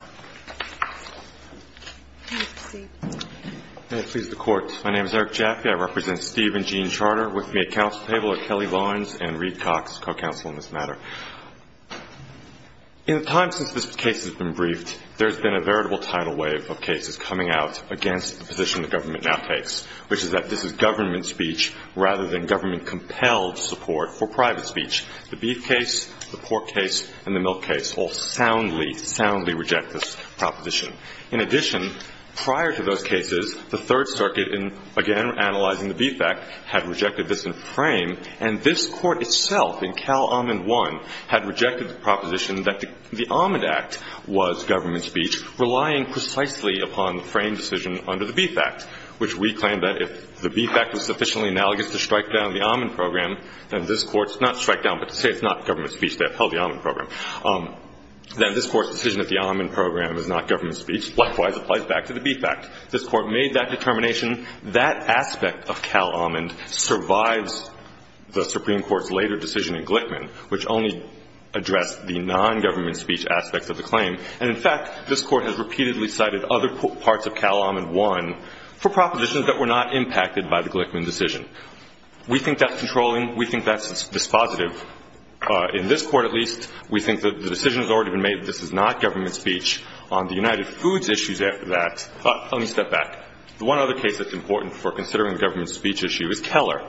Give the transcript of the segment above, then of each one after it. In the time since this case has been briefed, there has been a veritable tidal wave of cases coming out against the position the government now takes, which is that this is government speech rather than government-compelled support for private speech. The beef case, the pork In addition, prior to those cases, the Third Circuit in, again, analyzing the Beef Act had rejected this in frame, and this Court itself in Cal Amend 1 had rejected the proposition that the Amend Act was government speech, relying precisely upon the frame decision under the Beef Act, which we claim that if the Beef Act was sufficiently analogous to strike down the amend program, then this Court's not strike down, but to say it's not government speech that held the amend program, then this Court's decision that the amend program is not government speech, likewise, applies back to the Beef Act. This Court made that determination. That aspect of Cal Amend survives the Supreme Court's later decision in Glickman, which only addressed the nongovernment speech aspects of the claim. And, in fact, this Court has repeatedly cited other parts of Cal Amend 1 for propositions that were not impacted by the Glickman decision. We think that's controlling. We think that's dispositive. In this Court, at least, we think that the decision has already been made that this is not government speech. On the United Foods issues after that, let me step back. The one other case that's important for considering the government speech issue is Keller.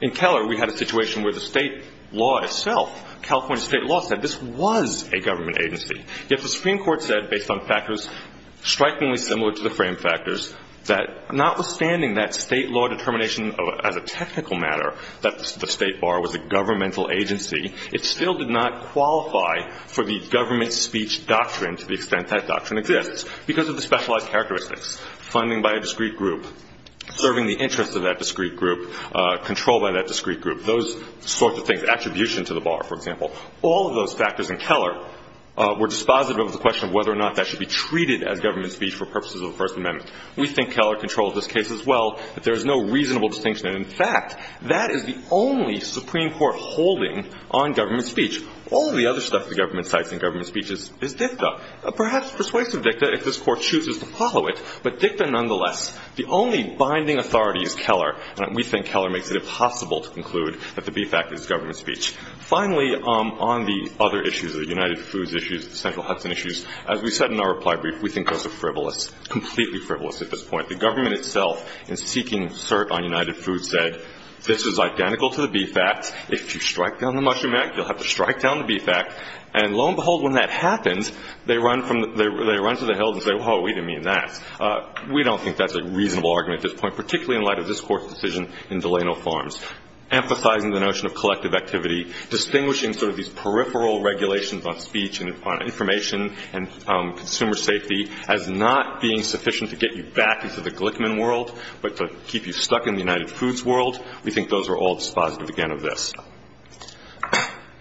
In Keller, we had a situation where the state law itself, California state law, said this was a government agency. Yet the Supreme Court said, based on factors strikingly similar to the frame factors, that notwithstanding that state law determination as a technical matter, that the State Bar was a governmental agency, it still did not qualify for the government speech doctrine to the extent that doctrine exists because of the specialized characteristics, funding by a discrete group, serving the interests of that discrete group, control by that discrete group, those sorts of things, attribution to the Bar, for example. All of those factors in Keller were dispositive of the question of whether or not that should be treated as government speech for purposes of the First Amendment. We think Keller controls this case as well, that there is no reasonable distinction. And in fact, that is the only Supreme Court holding on government speech. All of the other stuff the government cites in government speech is dicta. Perhaps persuasive dicta, if this Court chooses to follow it, but dicta nonetheless. The only binding authority is Keller, and we think Keller makes it impossible to conclude that the B fact is government speech. Finally, on the other issues, the United Foods issues, the Central Hudson issues, as we said in our reply brief, we think those are frivolous, completely frivolous at this point. The government itself in seeking cert on United Foods said, this is identical to the B fact. If you strike down the mushroom act, you'll have to strike down the B fact. And lo and behold, when that happens, they run to the hills and say, well, we didn't mean that. We don't think that's a reasonable argument at this point, particularly in light of this Court's decision in Delano Farms, emphasizing the notion of collective activity, distinguishing sort of these peripheral regulations on speech and on information and consumer safety as not being sufficient to get you back into the Glickman world, but to keep you stuck in the United Foods world, we think those are all dispositive, again, of this.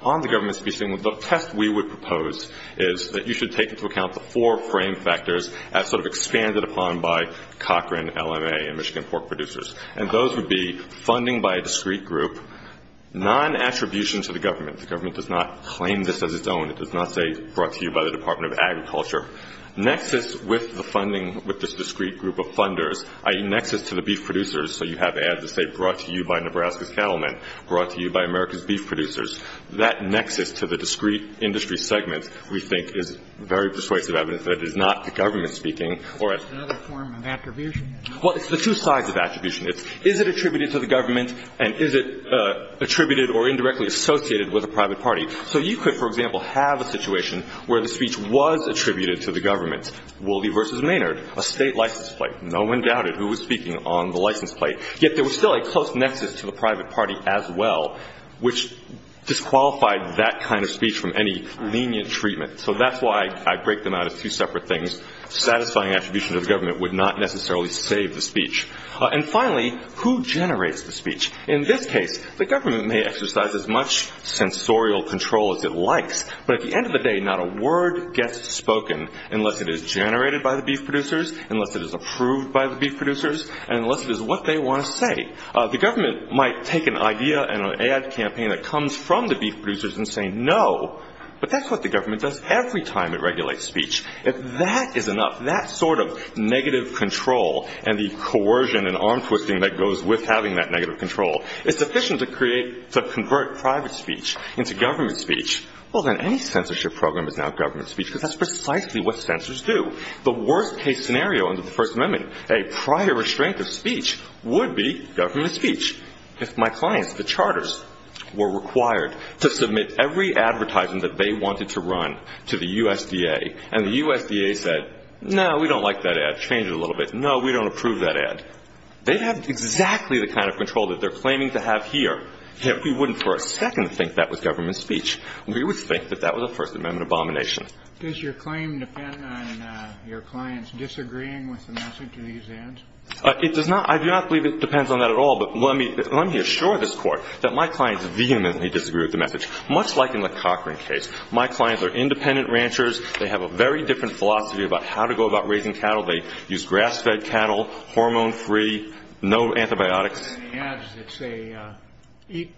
On the government speech, the test we would propose is that you should take into account the four frame factors as sort of expanded upon by Cochran, LMA, and Michigan Pork Producers. And those would be funding by a discrete group, non-attribution to the government. The government does not claim this as its own. It does not say brought to you by the Department of Agriculture. Nexus with the funding, with this discrete group of funders, i.e., nexus to the beef producers, so you have ads that say brought to you by Nebraska's cattlemen, brought to you by America's beef producers, that nexus to the discrete industry segments, we think is very persuasive evidence that it is not the government speaking or a — It's another form of attribution. Well, it's the two sides of attribution. It's is it attributed to the government, and is it attributed or indirectly associated with a private party? So you could, for example, have a situation where the speech was attributed to the government, Woolby v. Maynard, a state license plate. No one doubted who was speaking on the license plate. Yet there was still a close nexus to the private party as well, which disqualified that kind of speech from any lenient treatment. So that's why I break them out as two separate things. Satisfying And finally, who generates the speech? In this case, the government may exercise as much sensorial control as it likes, but at the end of the day, not a word gets spoken unless it is generated by the beef producers, unless it is approved by the beef producers, and unless it is what they want to say. The government might take an idea and an ad campaign that comes from the beef producers and say no, but that's what the government does every time it regulates speech. If that is enough, that sort of negative control and the coercion and arm-twisting that goes with having that negative control, it's sufficient to convert private speech into government speech. Well, then any censorship program is now government speech because that's precisely what censors do. The worst case scenario under the First Amendment, a prior restraint of speech, would be government speech. If my clients, the charters, were required to submit every advertisement that they wanted to run to the USDA and the USDA said, no, we don't like that ad, change it a little bit, no, we don't approve that ad, they'd have exactly the kind of control that they're claiming to have here if we wouldn't for a second think that was government speech. We would think that that was a First Amendment abomination. Does your claim depend on your clients disagreeing with the message of these ads? It does not. I do not believe it depends on that at all, but let me assure this Court that my clients vehemently disagree with the message, much like in the Cochrane case. My clients are independent ranchers. They have a very different philosophy about how to go about raising cattle. They use grass-fed cattle, hormone-free, no antibiotics. And the ads that say, eat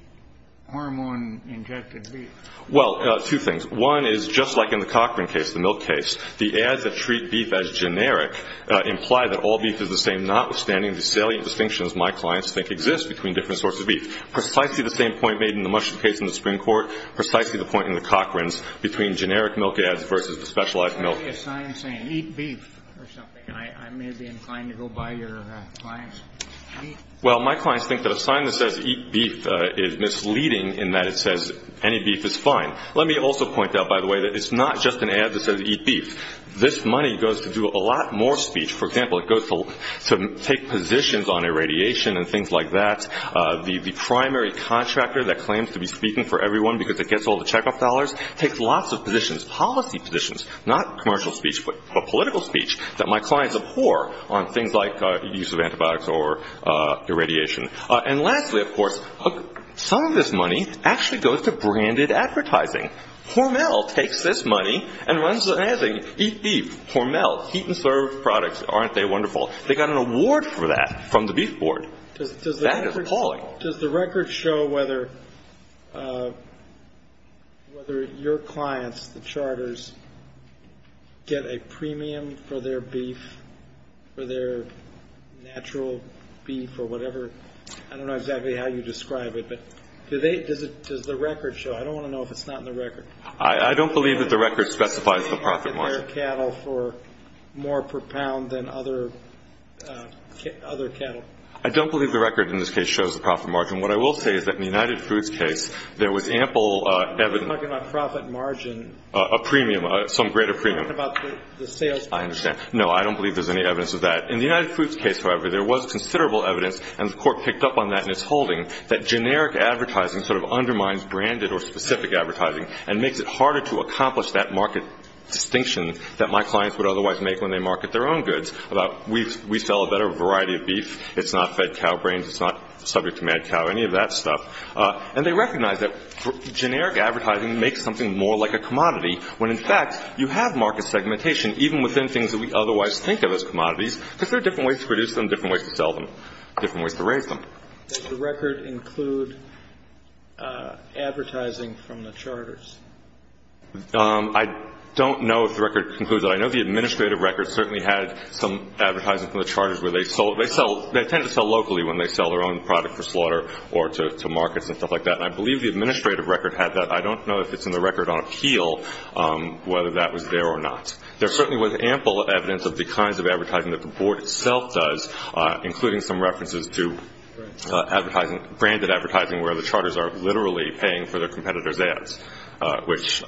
hormone-injected beef. Well, two things. One is just like in the Cochrane case, the milk case, the ads that treat beef as generic imply that all beef is the same, notwithstanding the salient distinctions my clients think exist between different sources of beef. Precisely the same point made in the Mushroom case in the Supreme Court, precisely the point in the Cochrane's, between generic milk ads versus the specialized milk. What about the sign saying, eat beef, or something? I may be inclined to go by your clients. Well, my clients think that a sign that says, eat beef, is misleading in that it says, any beef is fine. Let me also point out, by the way, that it's not just an ad that says, eat beef. This money goes to do a lot more speech. For example, it goes to take positions on irradiation and things like that. The primary contractor that claims to be speaking for everyone because it gets all the checkup dollars takes lots of positions, policy positions. Not commercial speech, but political speech that my clients abhor on things like use of antibiotics or irradiation. And lastly, of course, some of this money actually goes to branded advertising. Hormel takes this money and runs the ad saying, eat beef. Hormel, heat and serve products. Aren't they wonderful? They got an award for that from the Beef Board. That is appalling. Does the record show whether your clients, the charters, get a premium for their beef, for their natural beef, or whatever? I don't know exactly how you describe it, but does the record show? I don't want to know if it's not in the record. I don't believe that the record specifies the profit margin. I don't believe the record in this case shows the profit margin. What I will say is that in the United Foods case, there was ample evidence of premium, some greater premium. I understand. No, I don't believe there's any evidence of that. In the United Foods case, however, there was considerable evidence, and the Court picked up on that in its holding, that generic advertising sort of undermines branded or specific advertising and makes it harder to accomplish that market distinction that my clients would otherwise make when they market their own goods, about we sell a better variety of beef, it's not fed cow brains, it's not subject to mad cow, any of that stuff. And they recognize that generic advertising makes something more like a commodity, when in fact, you have market segmentation, even within things that we otherwise think of as commodities, because there are different ways to produce them, different ways to sell them, different ways to raise them. Does the record include advertising from the charters? I don't know if the record includes that. I know the administrative record certainly had some advertising from the charters where they tend to sell locally when they sell their own product for slaughter or to markets and stuff like that. And I believe the administrative record had that. I don't know if it's in the record on appeal, whether that was there or not. There certainly was ample evidence of the kinds of advertising that the Board itself does, including some references to branded advertising where the charters are literally paying for their competitors' ads, which,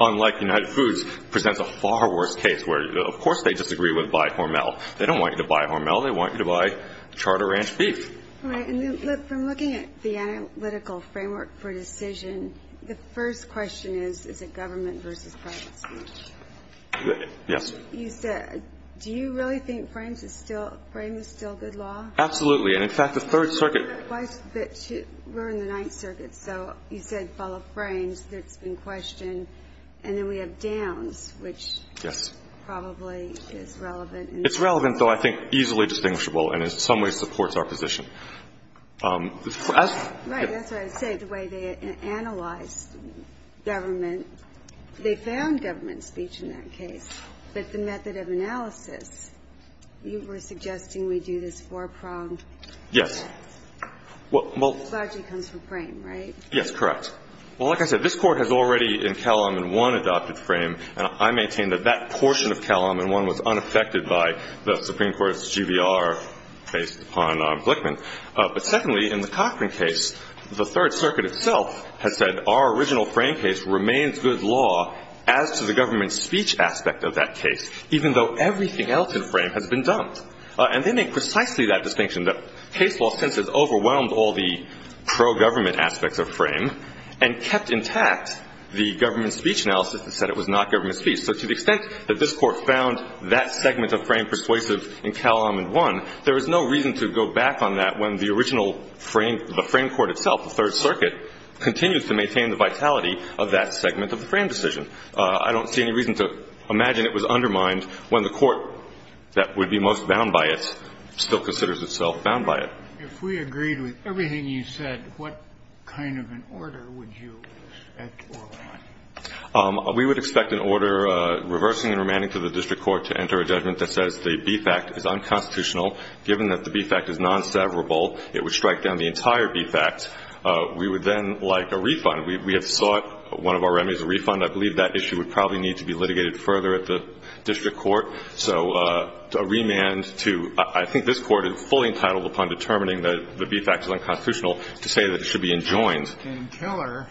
unlike United Foods, presents a far worse case where, of course, they disagree with buy Hormel. They don't want you to buy Hormel. They want you to buy Charter Ranch Beef. All right. And then, look, from looking at the analytical framework for decision, the first question is, is it government versus private speech? Yes. You said, do you really think frames is still good law? Absolutely. And, in fact, the Third Circuit We're in the Ninth Circuit, so you said follow frames. That's been questioned. And then we have downs, which probably is relevant. It's relevant, though I think easily distinguishable and in some ways supports our position. Right. That's what I was saying, the way they analyzed government. They found government is better than private speech in that case. But the method of analysis, you were suggesting we do this four-pronged? Yes. Largely comes from frame, right? Yes, correct. Well, like I said, this Court has already, in Calum, in one adopted frame, and I maintain that that portion of Calum in one was unaffected by the Supreme Court's GBR based upon Blickman. But, secondly, in the Cochran case, the Third Circuit itself has said our original frame case remains good law as to the government speech aspect of that case, even though everything else in frame has been dumped. And they make precisely that distinction, that case law since has overwhelmed all the pro-government aspects of frame and kept intact the government speech analysis that said it was not government speech. So to the extent that this Court found that segment of frame persuasive in Calum in one, there is no reason to go back on that when the original frame, the frame court itself, the Third Circuit, continues to maintain the vitality of that segment of the frame decision. I don't see any reason to imagine it was undermined when the court that would be most bound by it still considers itself bound by it. If we agreed with everything you said, what kind of an order would you expect or want? We would expect an order reversing and remanding to the district court to enter a judgment that says the beef act is unconstitutional. Given that the beef act is non-severable, it would strike down the entire beef act. We would then like a refund. We have sought one of our remedies, a refund. I believe that issue would probably need to be litigated further at the district court. So a remand to – I think this Court is fully entitled upon determining that the beef act is unconstitutional to say that it should be enjoined. In Keller,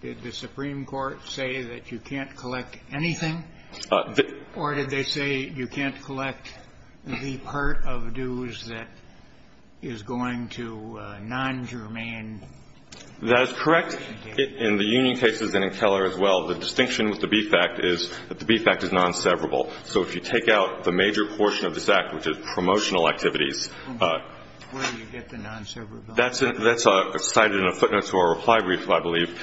did the Supreme Court say that you can't collect anything, or did they say you can't collect the part of dues that is going to non-germane? That is correct in the union cases and in Keller as well. The distinction with the beef act is that the beef act is non-severable. So if you take out the major portion of this act, which is promotional activities Where do you get the non-severable? That's cited in a footnote to our reply brief, I believe.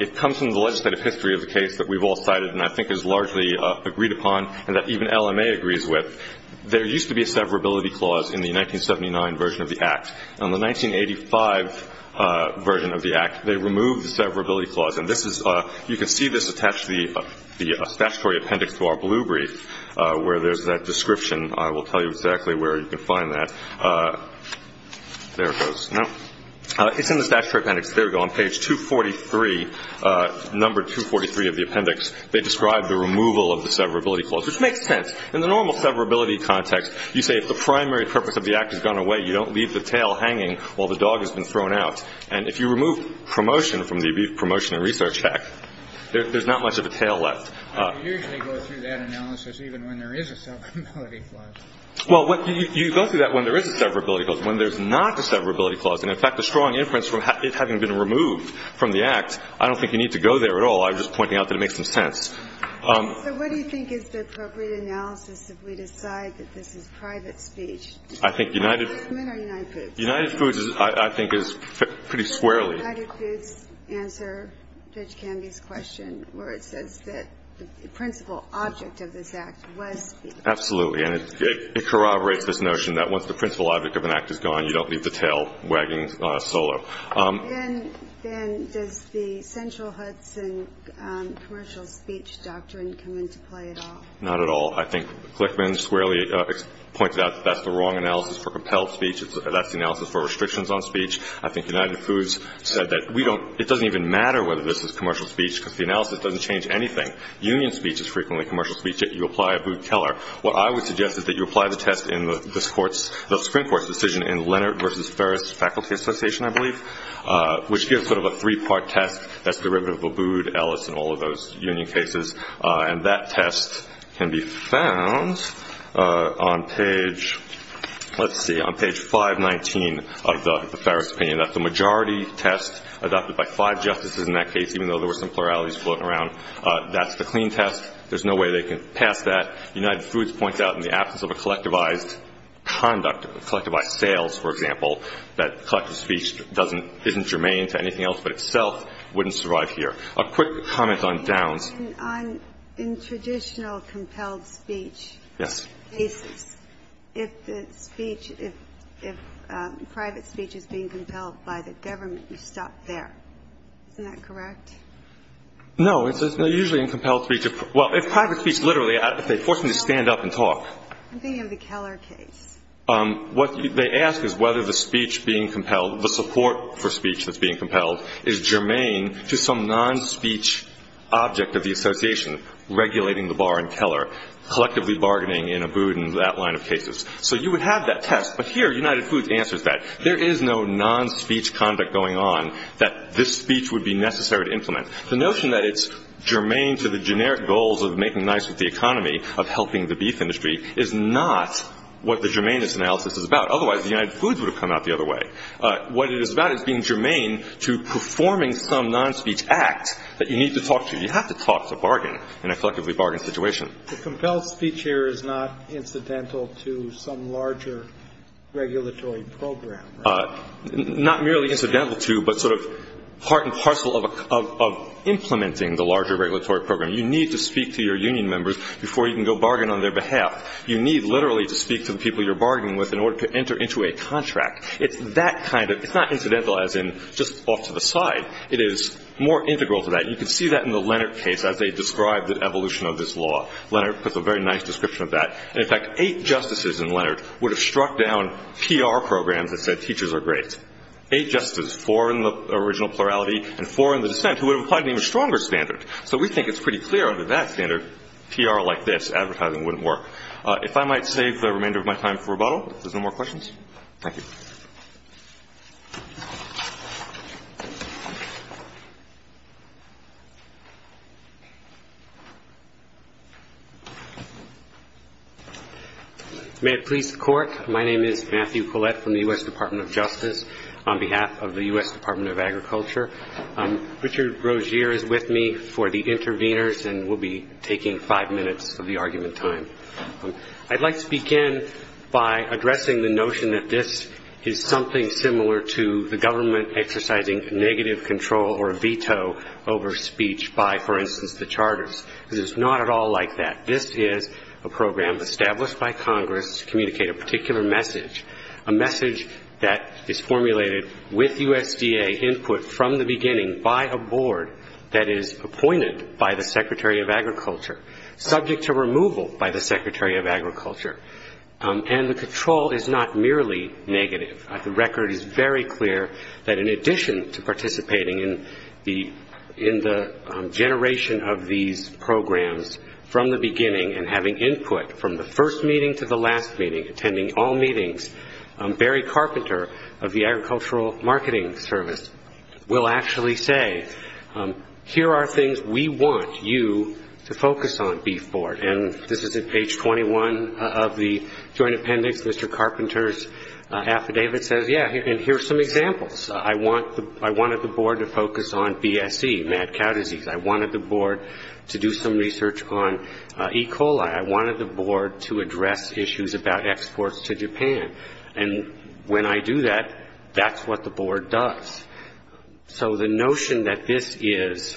It comes from the legislative history of the case that we've all cited and I think is largely agreed upon and that even LMA agrees with. There used to be a severability clause in the 1979 version of the act. In the 1985 version of the act, they removed the severability clause. And this is – you can see this attached to the statutory appendix to our blue brief, where there's that description. I will tell you exactly where you can find that. There it goes. No, it's in the statutory appendix. There we go, on page 243, number 243 of the appendix. They describe the removal of the severability clause, which makes sense. In the normal severability context, you say if the primary purpose of the act has gone away, you don't leave the tail hanging while the dog has been thrown out. And if you remove promotion from the beef promotion and research act, there's not much of a tail left. You usually go through that analysis even when there is a severability clause. Well, you go through that when there is a severability clause. When there's not a severability clause, and in fact, a strong inference from it having been removed from the act, I don't think you need to go there at all. I'm just pointing out that it makes some sense. So what do you think is the appropriate analysis if we decide that this is private speech? I think United Foods is, I think, is pretty squarely. Does United Foods answer Judge Canby's question, where it says that the principal object of this act was? Absolutely. And it corroborates this notion that once the principal object of an act is gone, you don't leave the tail wagging solo. Then does the central Hudson commercial speech doctrine come into play at all? Not at all. I think Glickman squarely points out that that's the wrong analysis for compelled speech. That's the analysis for restrictions on speech. I think United Foods said that it doesn't even matter whether this is commercial speech because the analysis doesn't change anything. Union speech is frequently commercial speech if you apply a Booth Keller. What I would suggest is that you apply the test in the Supreme Court's decision in Leonard versus Ferris Faculty Association, I believe, which gives sort of a three-part test that's derivative of Booth, Ellis, and all of those union cases. And that test can be found on page, let's see, on page 519 of the Ferris opinion. That's the majority test adopted by five justices in that case, even though there were some pluralities floating around. That's the clean test. There's no way they can pass that. United Foods points out in the absence of a collectivized conduct, collectivized sales, for example, that collective speech doesn't, isn't germane to anything else but itself wouldn't survive here. A quick comment on Downs. In traditional compelled speech cases, if the speech, if private speech is being compelled by the government, you stop there. Isn't that correct? No, it's usually in compelled speech. Well, if private speech literally, if they force me to stand up and talk. I'm thinking of the Keller case. What they ask is whether the speech being compelled, the support for speech that's being compelled, is germane to some non-speech object of the association, regulating the bar in Keller, collectively bargaining in a boot in that line of cases. So you would have that test, but here United Foods answers that. There is no non-speech conduct going on that this speech would be necessary to implement. The notion that it's germane to the generic goals of making nice with the economy, of helping the beef industry, is not what the germane analysis is about. Otherwise, the United Foods would have come out the other way. What it is about is being germane to performing some non-speech act that you need to talk to. You have to talk to a bargain in a collectively bargained situation. The compelled speech here is not incidental to some larger regulatory program, right? Not merely incidental to, but sort of part and parcel of implementing the larger regulatory program. You need to speak to your union members before you can go bargain on their behalf. You need literally to speak to the people you're bargaining with in order to enter into a contract. It's that kind of, it's not incidental as in just off to the side. It is more integral to that. You can see that in the Leonard case as they describe the evolution of this law. Leonard puts a very nice description of that. In fact, eight justices in Leonard would have struck down PR programs that said teachers are great. Eight justices, four in the original plurality, and four in the dissent who would have applied to an even stronger standard. So we think it's pretty clear under that standard, PR like this, advertising wouldn't work. If I might save the remainder of my time for rebuttal, if there's no more questions. Thank you. May it please the court. My name is Matthew Collette from the U.S. Department of Justice on behalf of the U.S. Department of Agriculture. Richard Rogier is with me for the interveners and will be taking five minutes of the argument time. I'd like to begin by addressing the notion that this is something similar to the government exercising negative control or a veto over speech by, for instance, the charters. This is not at all like that. This is a program established by Congress to communicate a particular message. A message that is formulated with USDA input from the beginning by a board that is appointed by the Secretary of Agriculture, subject to removal by the Secretary of Agriculture. And the control is not merely negative. The record is very clear that in addition to participating in the generation of these programs from the beginning and having input from the first meeting to the last meeting, attending all meetings, Barry Carpenter of the Agricultural Marketing Service will actually say, here are things we want you to focus on, Beef Board. And this is at page 21 of the joint appendix. Mr. Carpenter's affidavit says, yeah, and here are some examples. I wanted the board to focus on BSE, mad cow disease. I wanted the board to do some research on E. coli. I wanted the board to address issues about exports to Japan. And when I do that, that's what the board does. So the notion that this is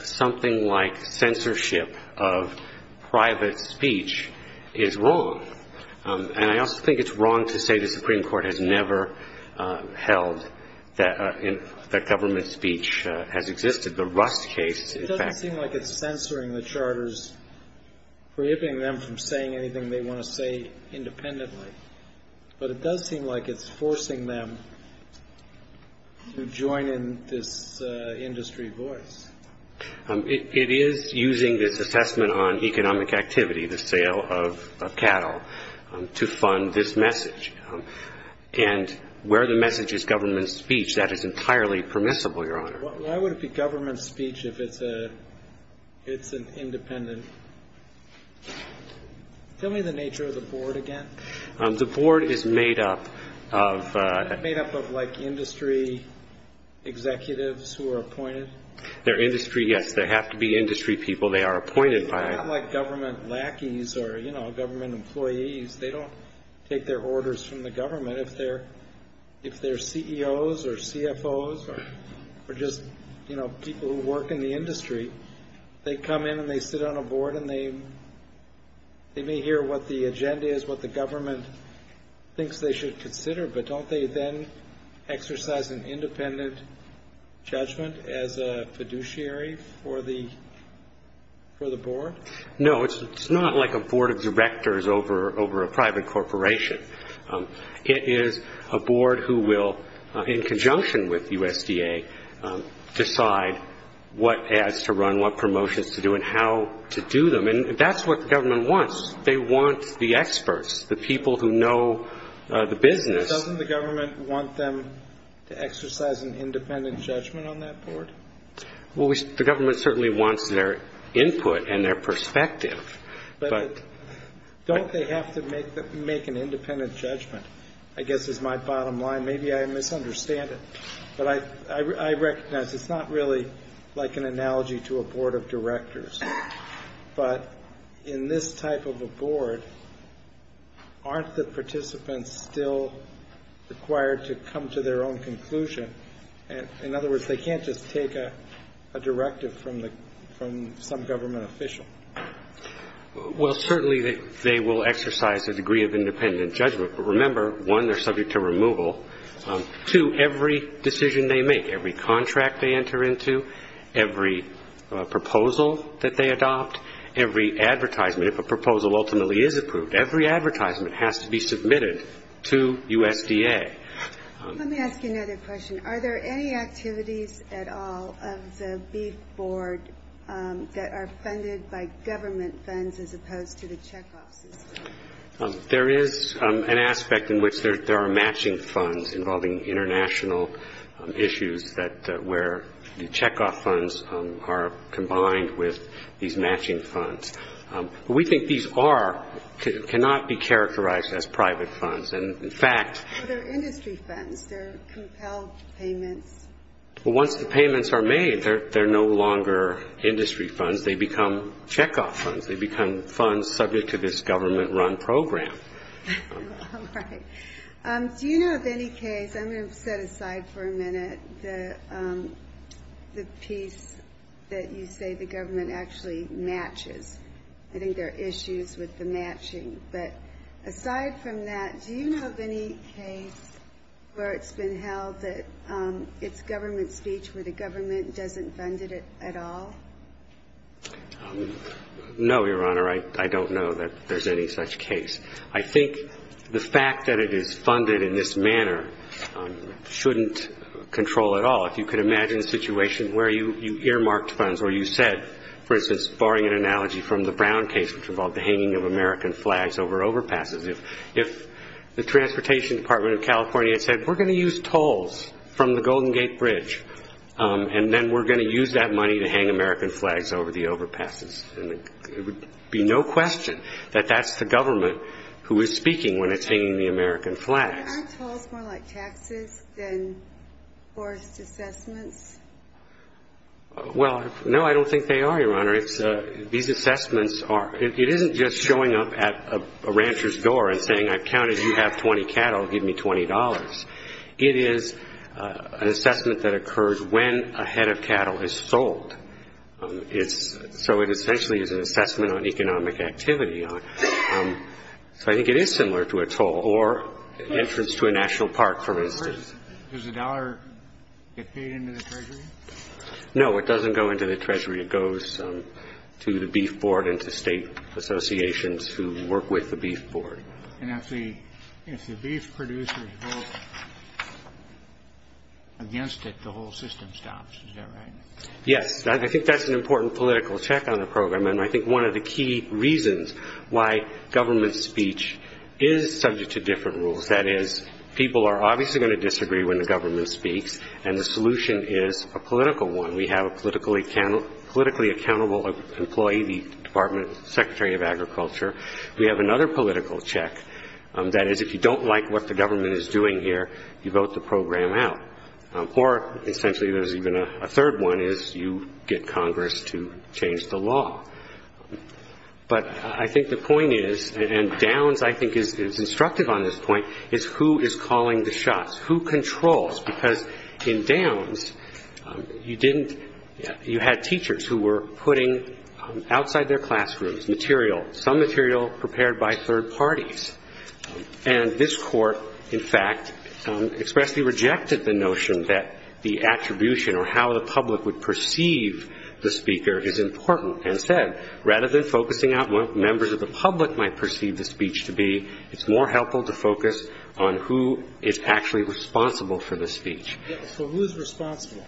something like censorship of private speech is wrong. And I also think it's wrong to say the Supreme Court has never held that government speech has existed. The Rust case, in fact It doesn't seem like it's censoring the charters, prohibiting them from saying anything they want to say independently. But it does seem like it's forcing them to join in this industry voice. It is using this assessment on economic activity, the sale of cattle, to fund this message. And where the message is government speech, that is entirely permissible, Your Honor. Why would it be government speech if it's an independent? Tell me the nature of the board again. The board is made up of. Made up of like industry executives who are appointed. They're industry, yes. They have to be industry people. They are appointed by. Not like government lackeys or, you know, government employees. They don't take their orders from the government. If they're if they're CEOs or CFOs or just, you know, people who work in the industry, they come in and they sit on a board and they may hear what the agenda is, what the government thinks they should consider. But don't they then exercise an independent judgment as a fiduciary for the for the board? No, it's not like a board of directors over over a private corporation. It is a board who will, in conjunction with USDA, decide what ads to run, what promotions to do and how to do them. And that's what the government wants. They want the experts, the people who know the business. Doesn't the government want them to exercise an independent judgment on that board? Well, the government certainly wants their input and their perspective. But don't they have to make that make an independent judgment, I guess, is my bottom line. Maybe I misunderstand it, but I recognize it's not really like an analogy to a board of directors. But in this type of a board, aren't the participants still required to come to their own conclusion? And in other words, they can't just take a directive from the from some government official. Well, certainly they will exercise a degree of independent judgment. But remember, one, they're subject to removal to every decision they make, every contract they enter into, every proposal that they adopt, every advertisement, if a proposal ultimately is approved, every advertisement has to be submitted to USDA. Let me ask you another question. Are there any activities at all of the BEEF board that are funded by government funds as opposed to the check-off system? There is an aspect in which there are matching funds involving international issues where the check-off funds are combined with these matching funds. We think these cannot be characterized as private funds. And in fact... They're industry funds. They're compelled payments. Well, once the payments are made, they're no longer industry funds. They become check-off funds. They become funds subject to this government-run program. Do you know of any case, I'm going to set aside for a minute, the piece that you say the government actually matches? I think there are issues with the matching. But aside from that, do you know of any case where it's been held that it's government speech where the government doesn't fund it at all? No, Your Honor. I don't know that there's any such case. I think the fact that it is funded in this manner shouldn't control at all. If you could imagine a situation where you earmarked funds or you said, for instance, barring an analogy from the Brown case, which involved the hanging of American flags over overpasses. If the Transportation Department of California had said, we're going to use tolls from the Golden Gate Bridge, and then we're going to use that money to hang American flags over the overpasses, then it would be no question that that's the government who is speaking when it's hanging the American flags. Aren't tolls more like taxes than forced assessments? Well, no, I don't think they are, Your Honor. It's these assessments are, it isn't just showing up at a rancher's door and saying, I've counted, you have 20 cattle, give me $20. It is an assessment that occurs when a head of cattle is sold. It's so it essentially is an assessment on economic activity. So I think it is similar to a toll or entrance to a national park, for instance. Does the dollar get paid into the Treasury? No, it doesn't go into the Treasury. It goes to the Beef Board and to state associations who work with the Beef Board. And if the beef producers vote against it, the whole system stops. Is that right? Yes, I think that's an important political check on the program. And I think one of the key reasons why government speech is subject to different rules, that is, people are obviously going to disagree when the government speaks. And the solution is a political one. We have a politically accountable employee, the Department Secretary of Agriculture. We have another political check. That is, if you don't like what the government is doing here, you vote the program out. Or essentially, there's even a third one, is you get Congress to change the law. But I think the point is, and Downs, I think, is instructive on this point, is who is calling the shots, who controls? Because in Downs, you had teachers who were putting outside their classrooms material, some material prepared by third parties. And this court, in fact, expressly rejected the notion that the attribution or how the public would perceive the speaker is important. And said, rather than focusing on what members of the public might perceive the speech to be, it's more helpful to focus on who is actually responsible for the speech. So who's responsible?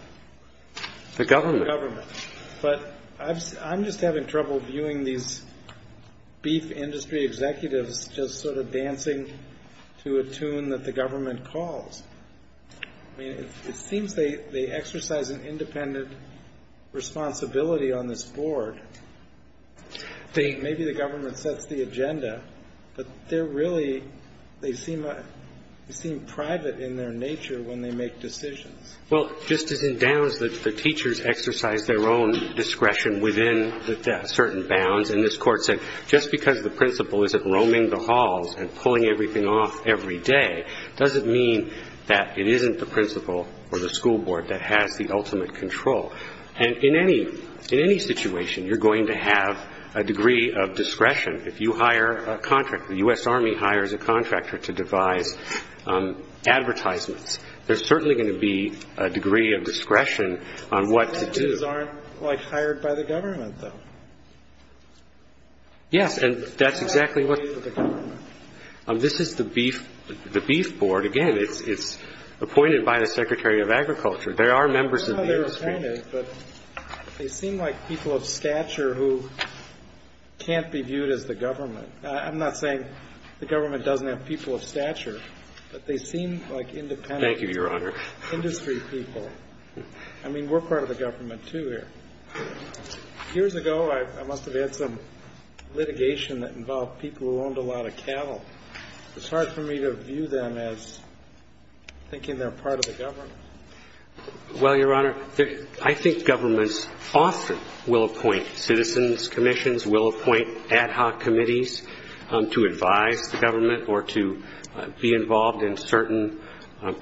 The government. But I'm just having trouble viewing these beef industry executives just sort of dancing to a tune that the government calls. I mean, it seems they exercise an independent responsibility on this board. Maybe the government sets the agenda. But they're really, they seem private in their nature when they make decisions. Well, just as in Downs, the teachers exercise their own discretion within certain bounds. And this court said, just because the principal isn't roaming the halls and pulling everything off every day doesn't mean that it isn't the principal or the school board that has the ultimate control. And in any situation, you're going to have a degree of discretion. If you hire a contractor, the U.S. Army hires a contractor to devise advertisements. There's certainly going to be a degree of discretion on what to do. Executives aren't, like, hired by the government, though. Yes. And that's exactly what the government. This is the beef board. Again, it's appointed by the Secretary of Agriculture. There are members of the industry. I don't know how they're appointed, but they seem like people of stature who can't be viewed as the government. I'm not saying the government doesn't have people of stature. But they seem like independent industry people. Thank you, Your Honor. I mean, we're part of the government, too, here. Years ago, I must have had some litigation that involved people who owned a lot of cattle. It's hard for me to view them as thinking they're part of the government. Well, Your Honor, I think governments often will appoint citizens' commissions, will appoint ad hoc committees to advise the government or to be involved in certain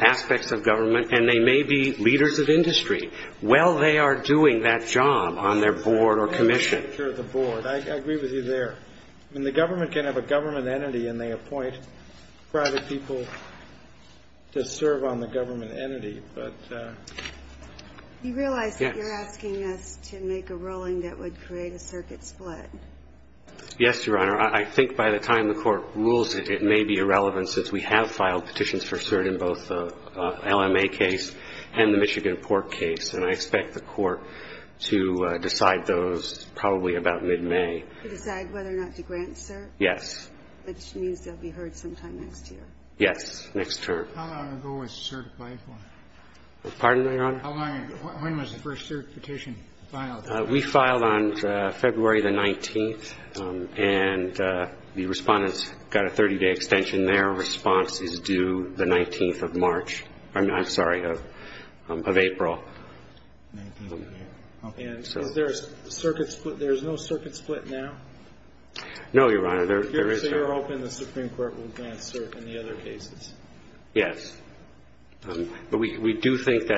aspects of government. And they may be leaders of industry. Well, they are doing that job on their board or commission. I agree with you there. I mean, the government can have a government entity, and they appoint private people to serve on the government entity. But you realize that you're asking us to make a ruling that would create a circuit split. Yes, Your Honor. I think by the time the Court rules it, it may be irrelevant, since we have filed petitions for cert in both the LMA case and the Michigan Port case. And I expect the Court to decide those probably about mid-May. To decide whether or not to grant cert? Yes. Which means they'll be heard sometime next year. Yes, next term. How long ago was certified? Pardon me, Your Honor? How long ago? When was the first cert petition filed? We filed on February the 19th. And the respondents got a 30-day extension. Their response is due the 19th of March. I'm sorry, of April. And is there a circuit split? There's no circuit split now? No, Your Honor. There is no. So you're hoping the Supreme Court will grant cert in the other cases? Yes. But we do think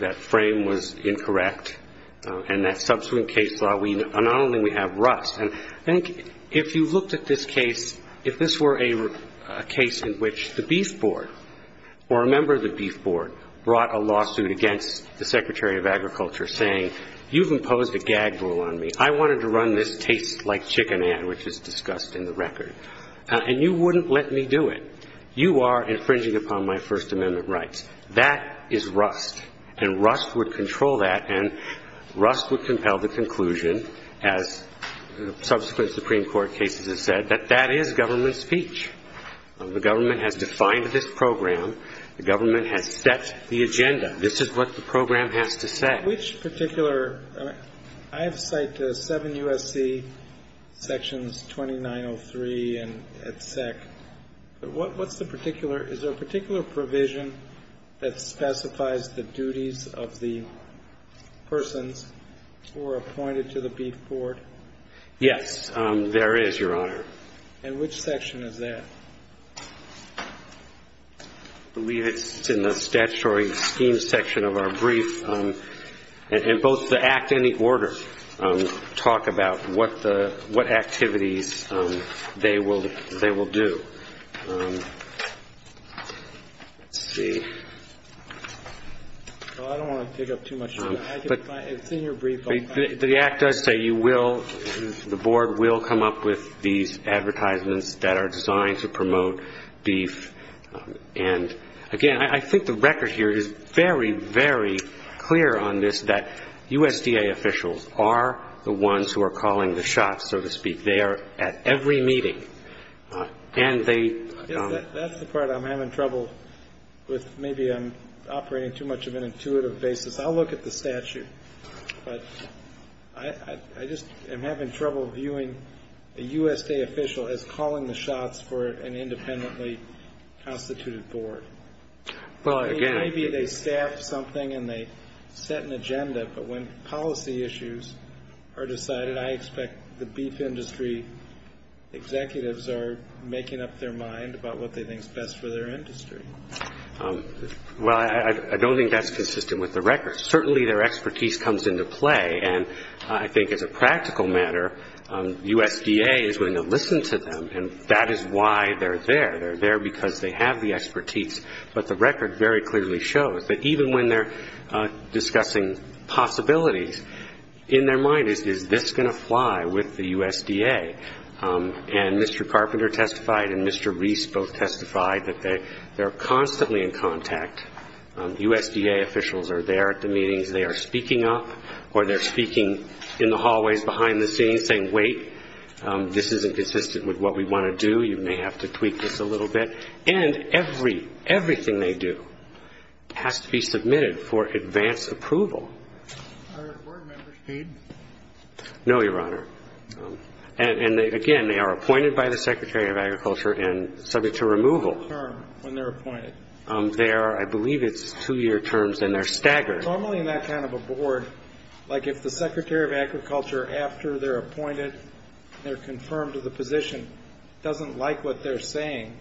that frame was incorrect. And that subsequent case law, not only we have rust, I think if you looked at this case, if this were a case in which the Beef Board or a member of the Beef Board brought a lawsuit against the Secretary of Agriculture saying, you've imposed a gag rule on me, I wanted to run this taste like chicken ad, which is discussed in the record, and you wouldn't let me do it. You are infringing upon my First Amendment rights. That is rust. And rust would control that. And rust would compel the conclusion, as subsequent Supreme Court cases have said, that that is government speech. The government has defined this program. The government has set the agenda. This is what the program has to say. Which particular? I have cited seven USC sections, 2903 and et sec. What's the particular? Is there a particular provision that specifies the duties of the persons who are appointed to the Beef Board? Yes, there is, Your Honor. And which section is that? I believe it's in the statutory scheme section of our brief. And both the act and the order talk about what activities they will do. Let's see. Well, I don't want to dig up too much. It's in your brief. The act does say you will, the board will come up with these advertisements that are designed to promote beef. And again, I think the record here is very, very clear on this, that USDA officials are the ones who are calling the shots, so to speak. They are at every meeting. And they- That's the part I'm having trouble with. Maybe I'm operating too much of an intuitive basis. I'll look at the statute. But I just am having trouble viewing a USDA official as calling the shots for an independently constituted board. Maybe they staffed something and they set an agenda, but when policy issues are decided, I expect the beef industry executives are making up their mind about what they think is best for their industry. Well, I don't think that's consistent with the record. Certainly their expertise comes into play. And I think as a practical matter, USDA is going to listen to them. And that is why they're there. They're there because they have the expertise. But the record very clearly shows that even when they're discussing possibilities, in their mind is, is this going to fly with the USDA? And Mr. Carpenter testified and Mr. Reese both testified that they are constantly in contact. USDA officials are there at the meetings. They are speaking up or they're speaking in the hallways behind the scenes saying, wait, this isn't consistent with what we want to do. You may have to tweak this a little bit. And every, everything they do has to be submitted for advanced approval. Are there board members paid? No, Your Honor. And again, they are appointed by the Secretary of Agriculture and subject to removal. When they're appointed? They are, I believe it's two-year terms and they're staggered. Normally in that kind of a board, like if the Secretary of Agriculture, after they're appointed, they're confirmed to the position, doesn't like what they're saying,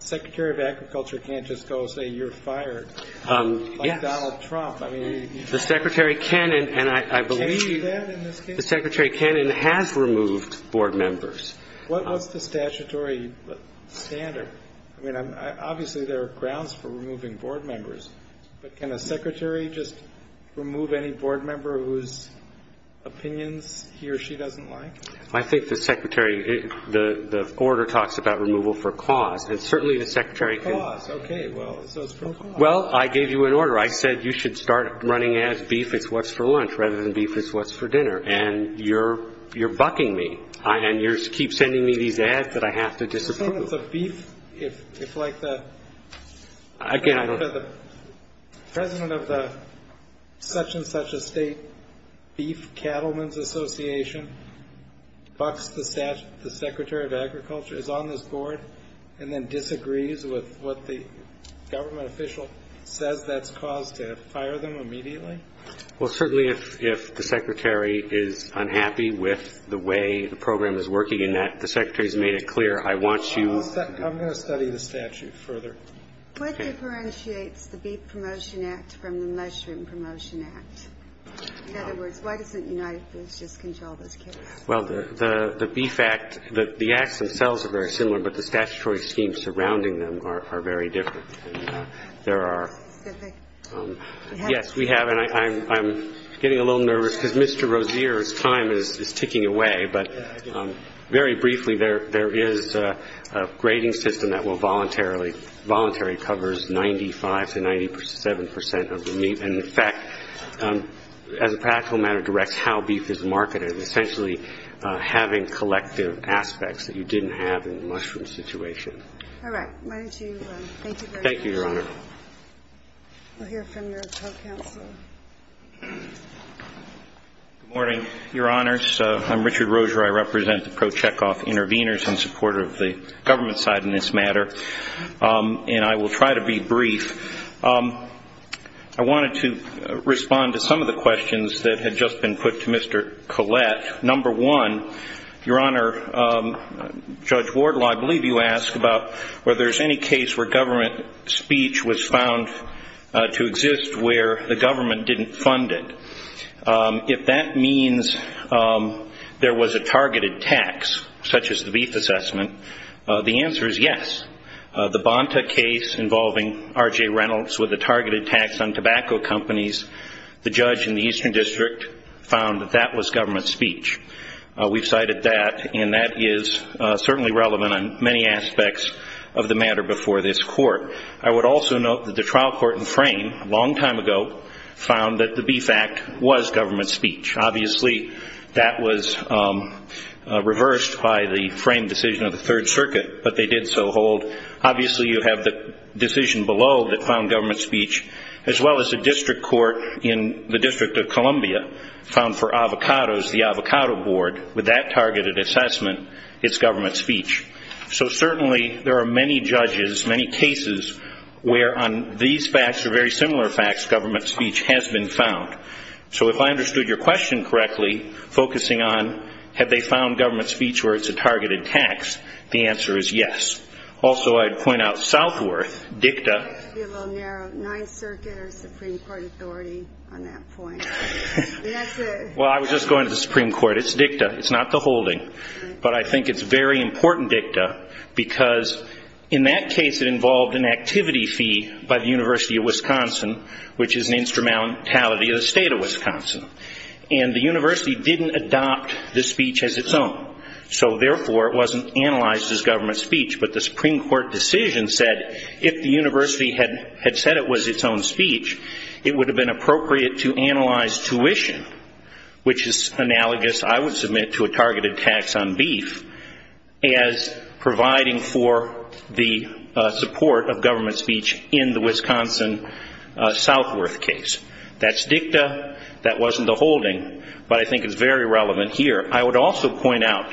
Secretary of Agriculture can't just go say you're fired, like Donald Trump. I mean, the Secretary can, and I believe the Secretary can and has removed board members. What's the statutory standard? I mean, obviously there are grounds for removing board members, but can a secretary just remove any board member whose opinions he or she doesn't like? I think the Secretary, the order talks about removal for cause. And certainly the Secretary can. Cause, okay, well, so it's for cause. Well, I gave you an order. I said you should start running ads, beef is what's for lunch, rather than beef is what's for dinner. And you're, you're bucking me. And you keep sending me these ads that I have to disapprove. If it's a beef, if, if like the, for the president of the such and such a state beef cattlemen's association, bucks the Secretary of Agriculture, is on this board, and then disagrees with what the government official says that's caused to fire them immediately? Well, certainly if, if the Secretary is unhappy with the way the program is working and that the Secretary's made it clear, I want you. I'm going to study the statute further. What differentiates the Beef Promotion Act from the Mushroom Promotion Act? In other words, why doesn't United Foods just control those kids? Well, the, the Beef Act, the, the acts themselves are very similar, but the statutory schemes surrounding them are, are very different. There are, yes, we have, and I, I'm, I'm getting a little nervous cause Mr. Very briefly, there, there is a grading system that will voluntarily, voluntary covers 95 to 97 percent of the meat. And in fact, as a practical matter, directs how beef is marketed. Essentially having collective aspects that you didn't have in the mushroom situation. All right. Why don't you, thank you very much. Thank you, Your Honor. We'll hear from your co-counselor. Good morning, Your Honors. I'm Richard Roser. I represent the pro-Chekhov intervenors in support of the government side in this matter. And I will try to be brief. I wanted to respond to some of the questions that had just been put to Mr. Collette. Number one, Your Honor, Judge Wardlaw, I believe you asked about whether there's any case where government speech was found to exist where the government didn't fund it. If that means there was a targeted tax, such as the beef assessment, the answer is yes. The Bonta case involving R.J. Reynolds with the targeted tax on tobacco companies, the judge in the Eastern District found that that was government speech. We've cited that, and that is certainly relevant on many aspects of the matter before this court. I would also note that the trial court in Frame, a long time ago, found that the Beef Act was government speech. Obviously, that was reversed by the Frame decision of the Third Circuit, but they did so hold. Obviously, you have the decision below that found government speech, as well as the district court in the District of Columbia found for avocados, the Avocado Board, with that targeted assessment, it's government speech. So, certainly, there are many judges, many cases where on these facts, or very similar facts, government speech has been found. So, if I understood your question correctly, focusing on have they found government speech where it's a targeted tax, the answer is yes. Also, I'd point out Southworth, DICTA. It would be a little narrow. Ninth Circuit or Supreme Court authority on that point, and that's it. Well, I was just going to the Supreme Court. It's DICTA. It's not the holding, but I think it's very important DICTA because in that case, it involved an activity fee by the University of Wisconsin, which is an instrumentality of the state of Wisconsin. And the university didn't adopt the speech as its own. So, therefore, it wasn't analyzed as government speech, but the Supreme Court decision said if the university had said it was its own speech, it would have been appropriate to analyze tuition, which is analogous, I would submit, to a targeted tax on beef as providing for the support of government speech in the Wisconsin Southworth case. That's DICTA. That wasn't the holding, but I think it's very relevant here. I would also point out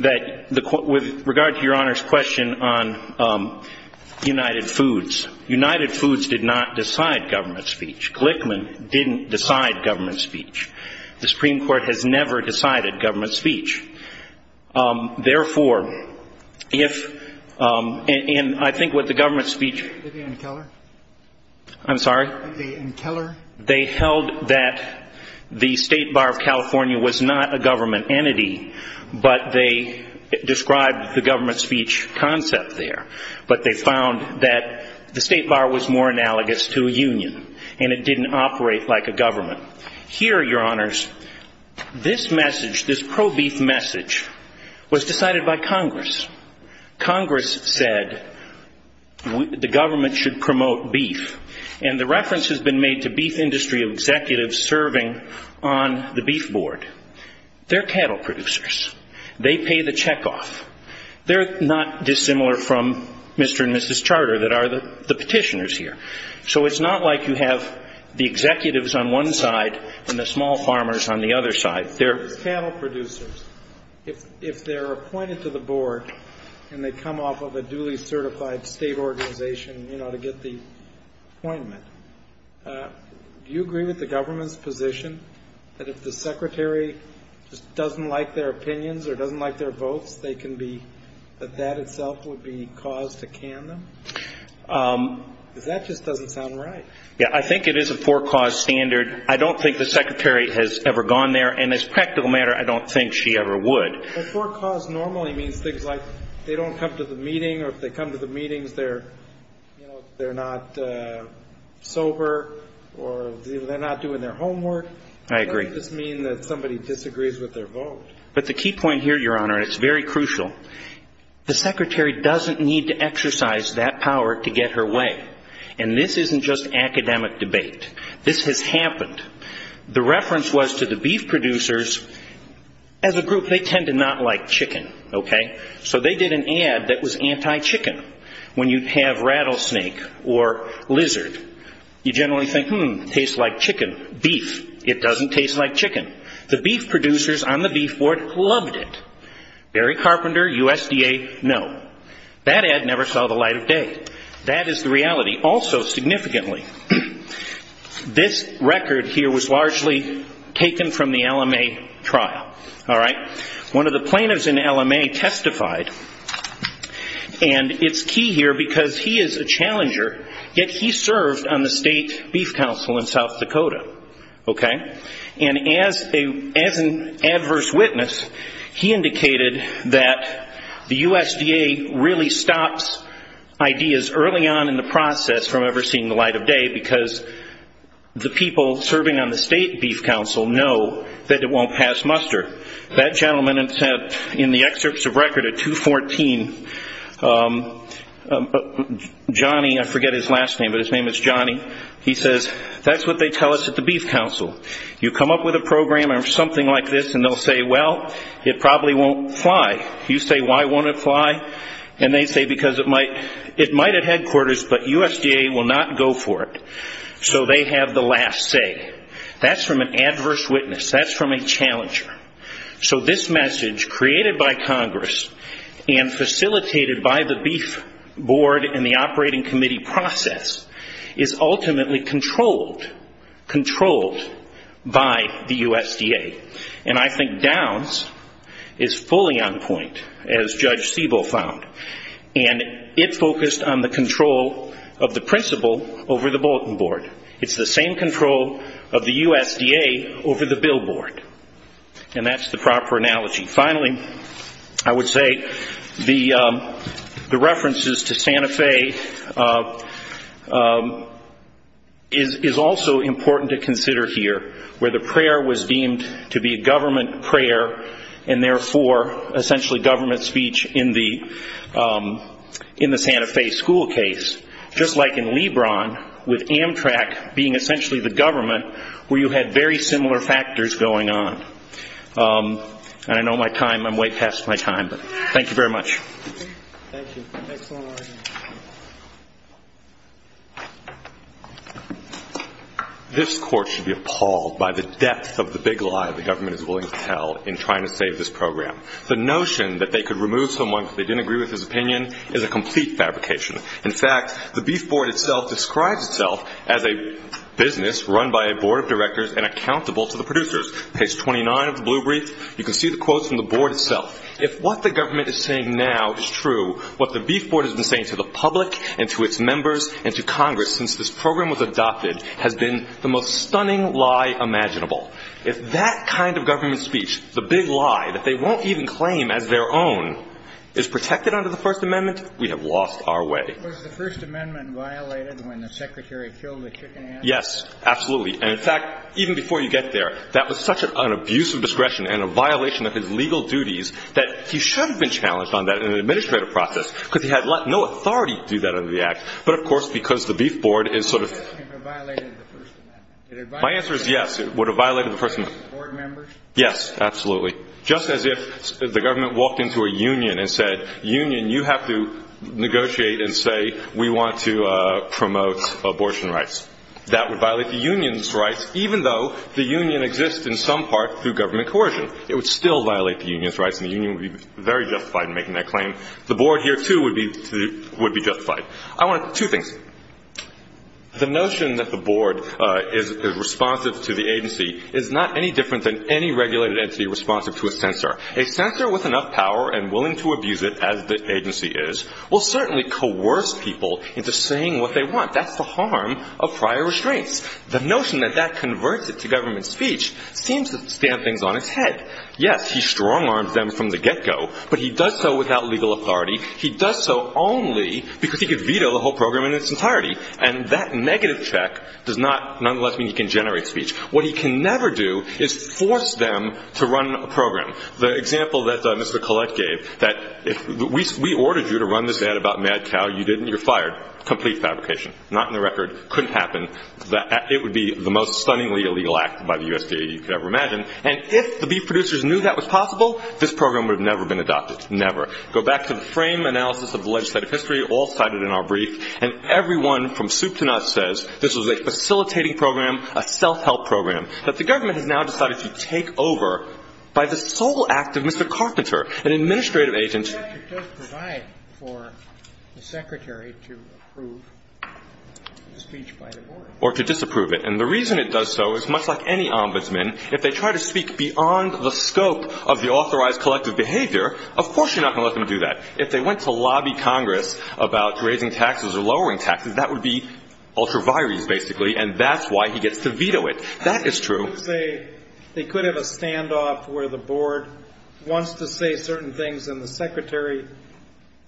that with regard to your Honor's question on United Foods, United Foods did not decide government speech. Glickman didn't decide government speech. The Supreme Court has never decided government speech. Therefore, if, and I think what the government speech, I'm sorry? They held that the State Bar of California was not a government entity, but they described the government speech concept there. But they found that the State Bar was more analogous to a union, and it didn't operate like a government. Here, your Honors, this message, this pro-beef message, was decided by Congress. Congress said the government should promote beef, and the reference has been made to beef industry executives serving on the beef board. They're cattle producers. They pay the check off. They're not dissimilar from Mr. and Mrs. Charter that are the petitioners here. So it's not like you have the executives on one side and the small farmers on the other side. They're cattle producers. If they're appointed to the board and they come off of a duly certified state organization, you know, to get the appointment, do you agree with the government's position that if the secretary just doesn't like their opinions or doesn't like their votes, they can be, that that itself would be cause to can them? Because that just doesn't sound right. Yeah, I think it is a for-cause standard. I don't think the secretary has ever gone there, and as a practical matter, I don't think she ever would. But for-cause normally means things like they don't come to the meeting, or if they come to the meetings, they're, you know, they're not sober, or they're not doing their homework. I agree. Doesn't this mean that somebody disagrees with their vote? But the key point here, your Honor, and it's very crucial, the secretary doesn't need to exercise that power to get her way. And this isn't just academic debate. This has happened. The reference was to the beef producers. As a group, they tend to not like chicken, okay? So they did an ad that was anti-chicken. When you have rattlesnake or lizard, you generally think, hmm, tastes like chicken, beef. It doesn't taste like chicken. The beef producers on the beef board loved it. Barry Carpenter, USDA, no. That ad never saw the light of day. That is the reality. Also, significantly, this record here was largely taken from the LMA trial, all right? One of the plaintiffs in the LMA testified, and it's key here because he is a challenger, yet he served on the State Beef Council in South Dakota, okay? And as an adverse witness, he indicated that the USDA really stops ideas early on in the process from ever seeing the light of day because the people serving on the State Beef Council know that it won't pass muster. That gentleman in the excerpts of record at 214, Johnny, I forget his last name, but his name is Johnny, he says, that's what they tell us at the Beef Council. You come up with a program or something like this, and they'll say, well, it probably won't fly. You say, why won't it fly? And they say, because it might at headquarters, but USDA will not go for it. So they have the last say. That's from an adverse witness. That's from a challenger. So this message created by Congress and facilitated by the beef board and the operating committee process is ultimately controlled by the USDA. And I think Downs is fully on point, as Judge Siebel found, and it focused on the control of the principal over the bulletin board. It's the same control of the USDA over the billboard, and that's the proper analogy. Finally, I would say the references to Santa Fe is also important to consider here, where the prayer was deemed to be a government prayer, and therefore, essentially government speech in the Santa Fe school case. Just like in Lebron, with Amtrak being essentially the government, where you had very similar factors going on. And I know my time, I'm way past my time, but thank you very much. Thank you. Next one right here. This court should be appalled by the depth of the big lie the government is willing to tell in trying to save this program. The notion that they could remove someone because they didn't agree with his opinion is a complete fabrication. In fact, the beef board itself describes itself as a business run by a board of directors and accountable to the producers. Page 29 of the blue brief, you can see the quotes from the board itself. If what the government is saying now is true, what the beef board has been saying to the public and to its members and to Congress since this program was adopted has been the most stunning lie imaginable. If that kind of government speech, the big lie that they won't even claim as their own is protected under the First Amendment, we have lost our way. Was the First Amendment violated when the secretary killed the chicken? Yes, absolutely. And in fact, even before you get there, that was such an abuse of discretion and a violation of his legal duties that he should have been challenged on that in an administrative process because he had no authority to do that under the act. But of course, because the beef board is sort of... Would it have violated the First Amendment? My answer is yes, it would have violated the First Amendment. Board members? Yes, absolutely. Just as if the government walked into a union and said, union, you have to negotiate and say we want to promote abortion rights. That would violate the union's rights even though the union exists in some part through government coercion. It would still violate the union's rights and the union would be very justified in making that claim. The board here, too, would be justified. I want two things. The notion that the board is responsive to the agency is not any different than any regulated entity responsive to a censor. A censor with enough power and willing to abuse it as the agency is will certainly coerce people into saying what they want. That's the harm of prior restraints. The notion that that converts it to government speech seems to stamp things on its head. Yes, he strong arms them from the get-go, but he does so without legal authority. He does so only because he could veto the whole program in its entirety. And that negative check does not, nonetheless, mean he can generate speech. What he can never do is force them to run a program. The example that Mr. Collette gave, that if we ordered you to run this ad about Mad Cow, you didn't, you're fired. Complete fabrication. Not in the record. Couldn't happen. It would be the most stunningly illegal act by the USDA you could ever imagine. And if the beef producers knew that was possible, this program would have never been adopted. Never. Go back to the frame analysis of the legislative history, all cited in our brief, and everyone from soup to nuts says this was a facilitating program, a self-help program, that the government has now decided to take over by the sole act of Mr. Carpenter, an administrative agent. It does provide for the secretary to approve the speech by the board. Or to disapprove it. And the reason it does so is, much like any ombudsman, if they try to speak beyond the scope of the authorized collective behavior, of course you're not going to let them do that. If they went to lobby Congress about raising taxes or lowering taxes, that would be ultra vires, basically, and that's why he gets to veto it. That is true. They could have a standoff where the board wants to say certain things, and the secretary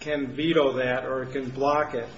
can veto that or can block it.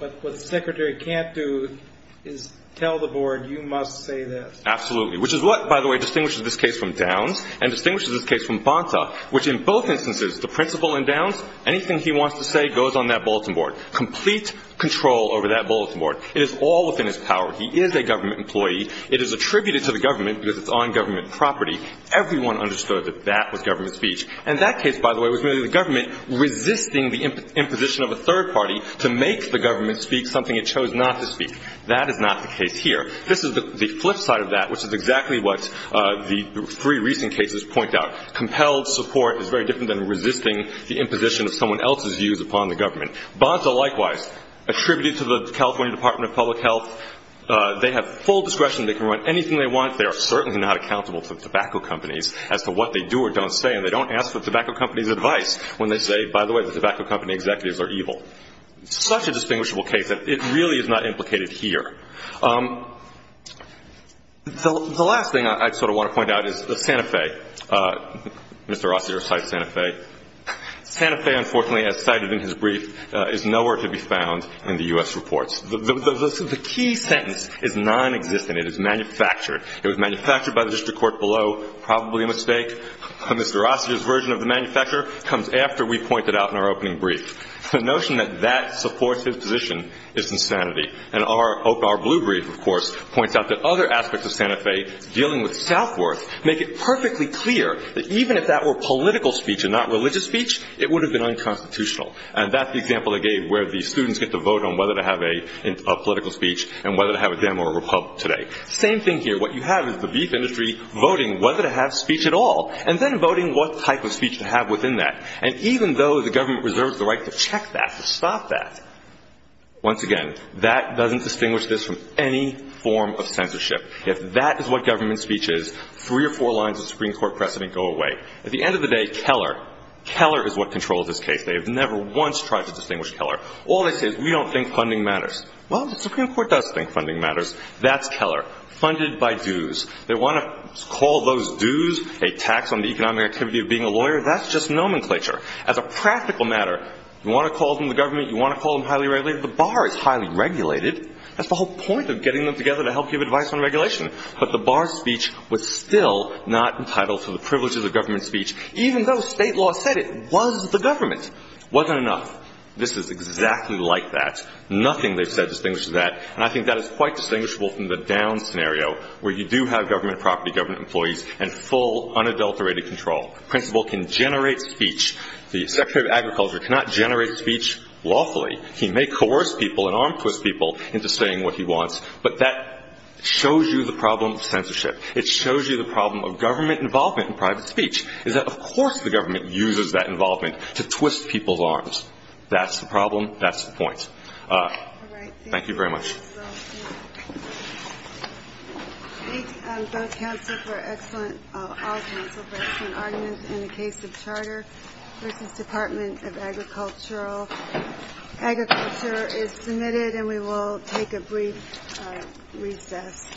But what the secretary can't do is tell the board, you must say this. Absolutely. Which is what, by the way, distinguishes this case from Downs and distinguishes this case from Bonta. Which in both instances, the principal in Downs, anything he wants to say goes on that bulletin board. Complete control over that bulletin board. It is all within his power. He is a government employee. It is attributed to the government because it's on government property. Everyone understood that that was government speech. And that case, by the way, was really the government resisting the imposition of a third party to make the government speak something it chose not to speak. That is not the case here. This is the flip side of that, which is exactly what the three recent cases point out. Compelled support is very different than resisting the imposition of someone else's views upon the government. Bonta, likewise, attributed to the California Department of Public Health. They have full discretion. They can run anything they want. They are certainly not accountable to tobacco companies as to what they do or don't say. And they don't ask for tobacco companies' advice when they say, by the way, the tobacco company executives are evil. Such a distinguishable case that it really is not implicated here. The last thing I sort of want to point out is the Santa Fe. Mr. Rossiter cites Santa Fe. Santa Fe, unfortunately, as cited in his brief, is nowhere to be found in the U.S. reports. The key sentence is nonexistent. It is manufactured. It was manufactured by the district court below. Probably a mistake. Mr. Rossiter's version of the manufacturer comes after we point it out in our opening brief. The notion that that supports his position is insanity. And our blue brief, of course, points out that other aspects of Santa Fe, dealing with Southworth, make it perfectly clear that even if that were political speech and not religious speech, it would have been unconstitutional. And that's the example I gave where the students get to vote on whether to have a political speech and whether to have a demo or a republic today. Same thing here. What you have is the beef industry voting whether to have speech at all and then voting what type of speech to have within that. And even though the government reserves the right to check that, to stop that, once again, that doesn't distinguish this from any form of censorship. If that is what government speech is, three or four lines of Supreme Court precedent go away. At the end of the day, Keller, Keller is what controls this case. They have never once tried to distinguish Keller. All they say is, we don't think funding matters. Well, the Supreme Court does think funding matters. That's Keller. Funded by dues. They want to call those dues a tax on the economic activity of being a lawyer. That's just nomenclature. As a practical matter, you want to call them the government, you want to call them highly regulated, the bar is highly regulated. That's the whole point of getting them together to help give advice on regulation. But the bar's speech was still not entitled to the privileges of government speech, even though state law said it was the government. Wasn't enough. This is exactly like that. Nothing they've said distinguishes that, and I think that is quite distinguishable from the down scenario, where you do have government property, government employees, and full, unadulterated control. Principal can generate speech. The Secretary of Agriculture cannot generate speech lawfully. He may coerce people and arm twist people into saying what he wants, but that shows you the problem of censorship. It shows you the problem of government involvement in private speech, is that of course the government uses that involvement to twist people's arms. That's the problem. That's the point. Thank you very much. I thank both council for excellent, all council for excellent arguments in the case of Charter versus Department of Agricultural. Agriculture is submitted and we will take a brief recess.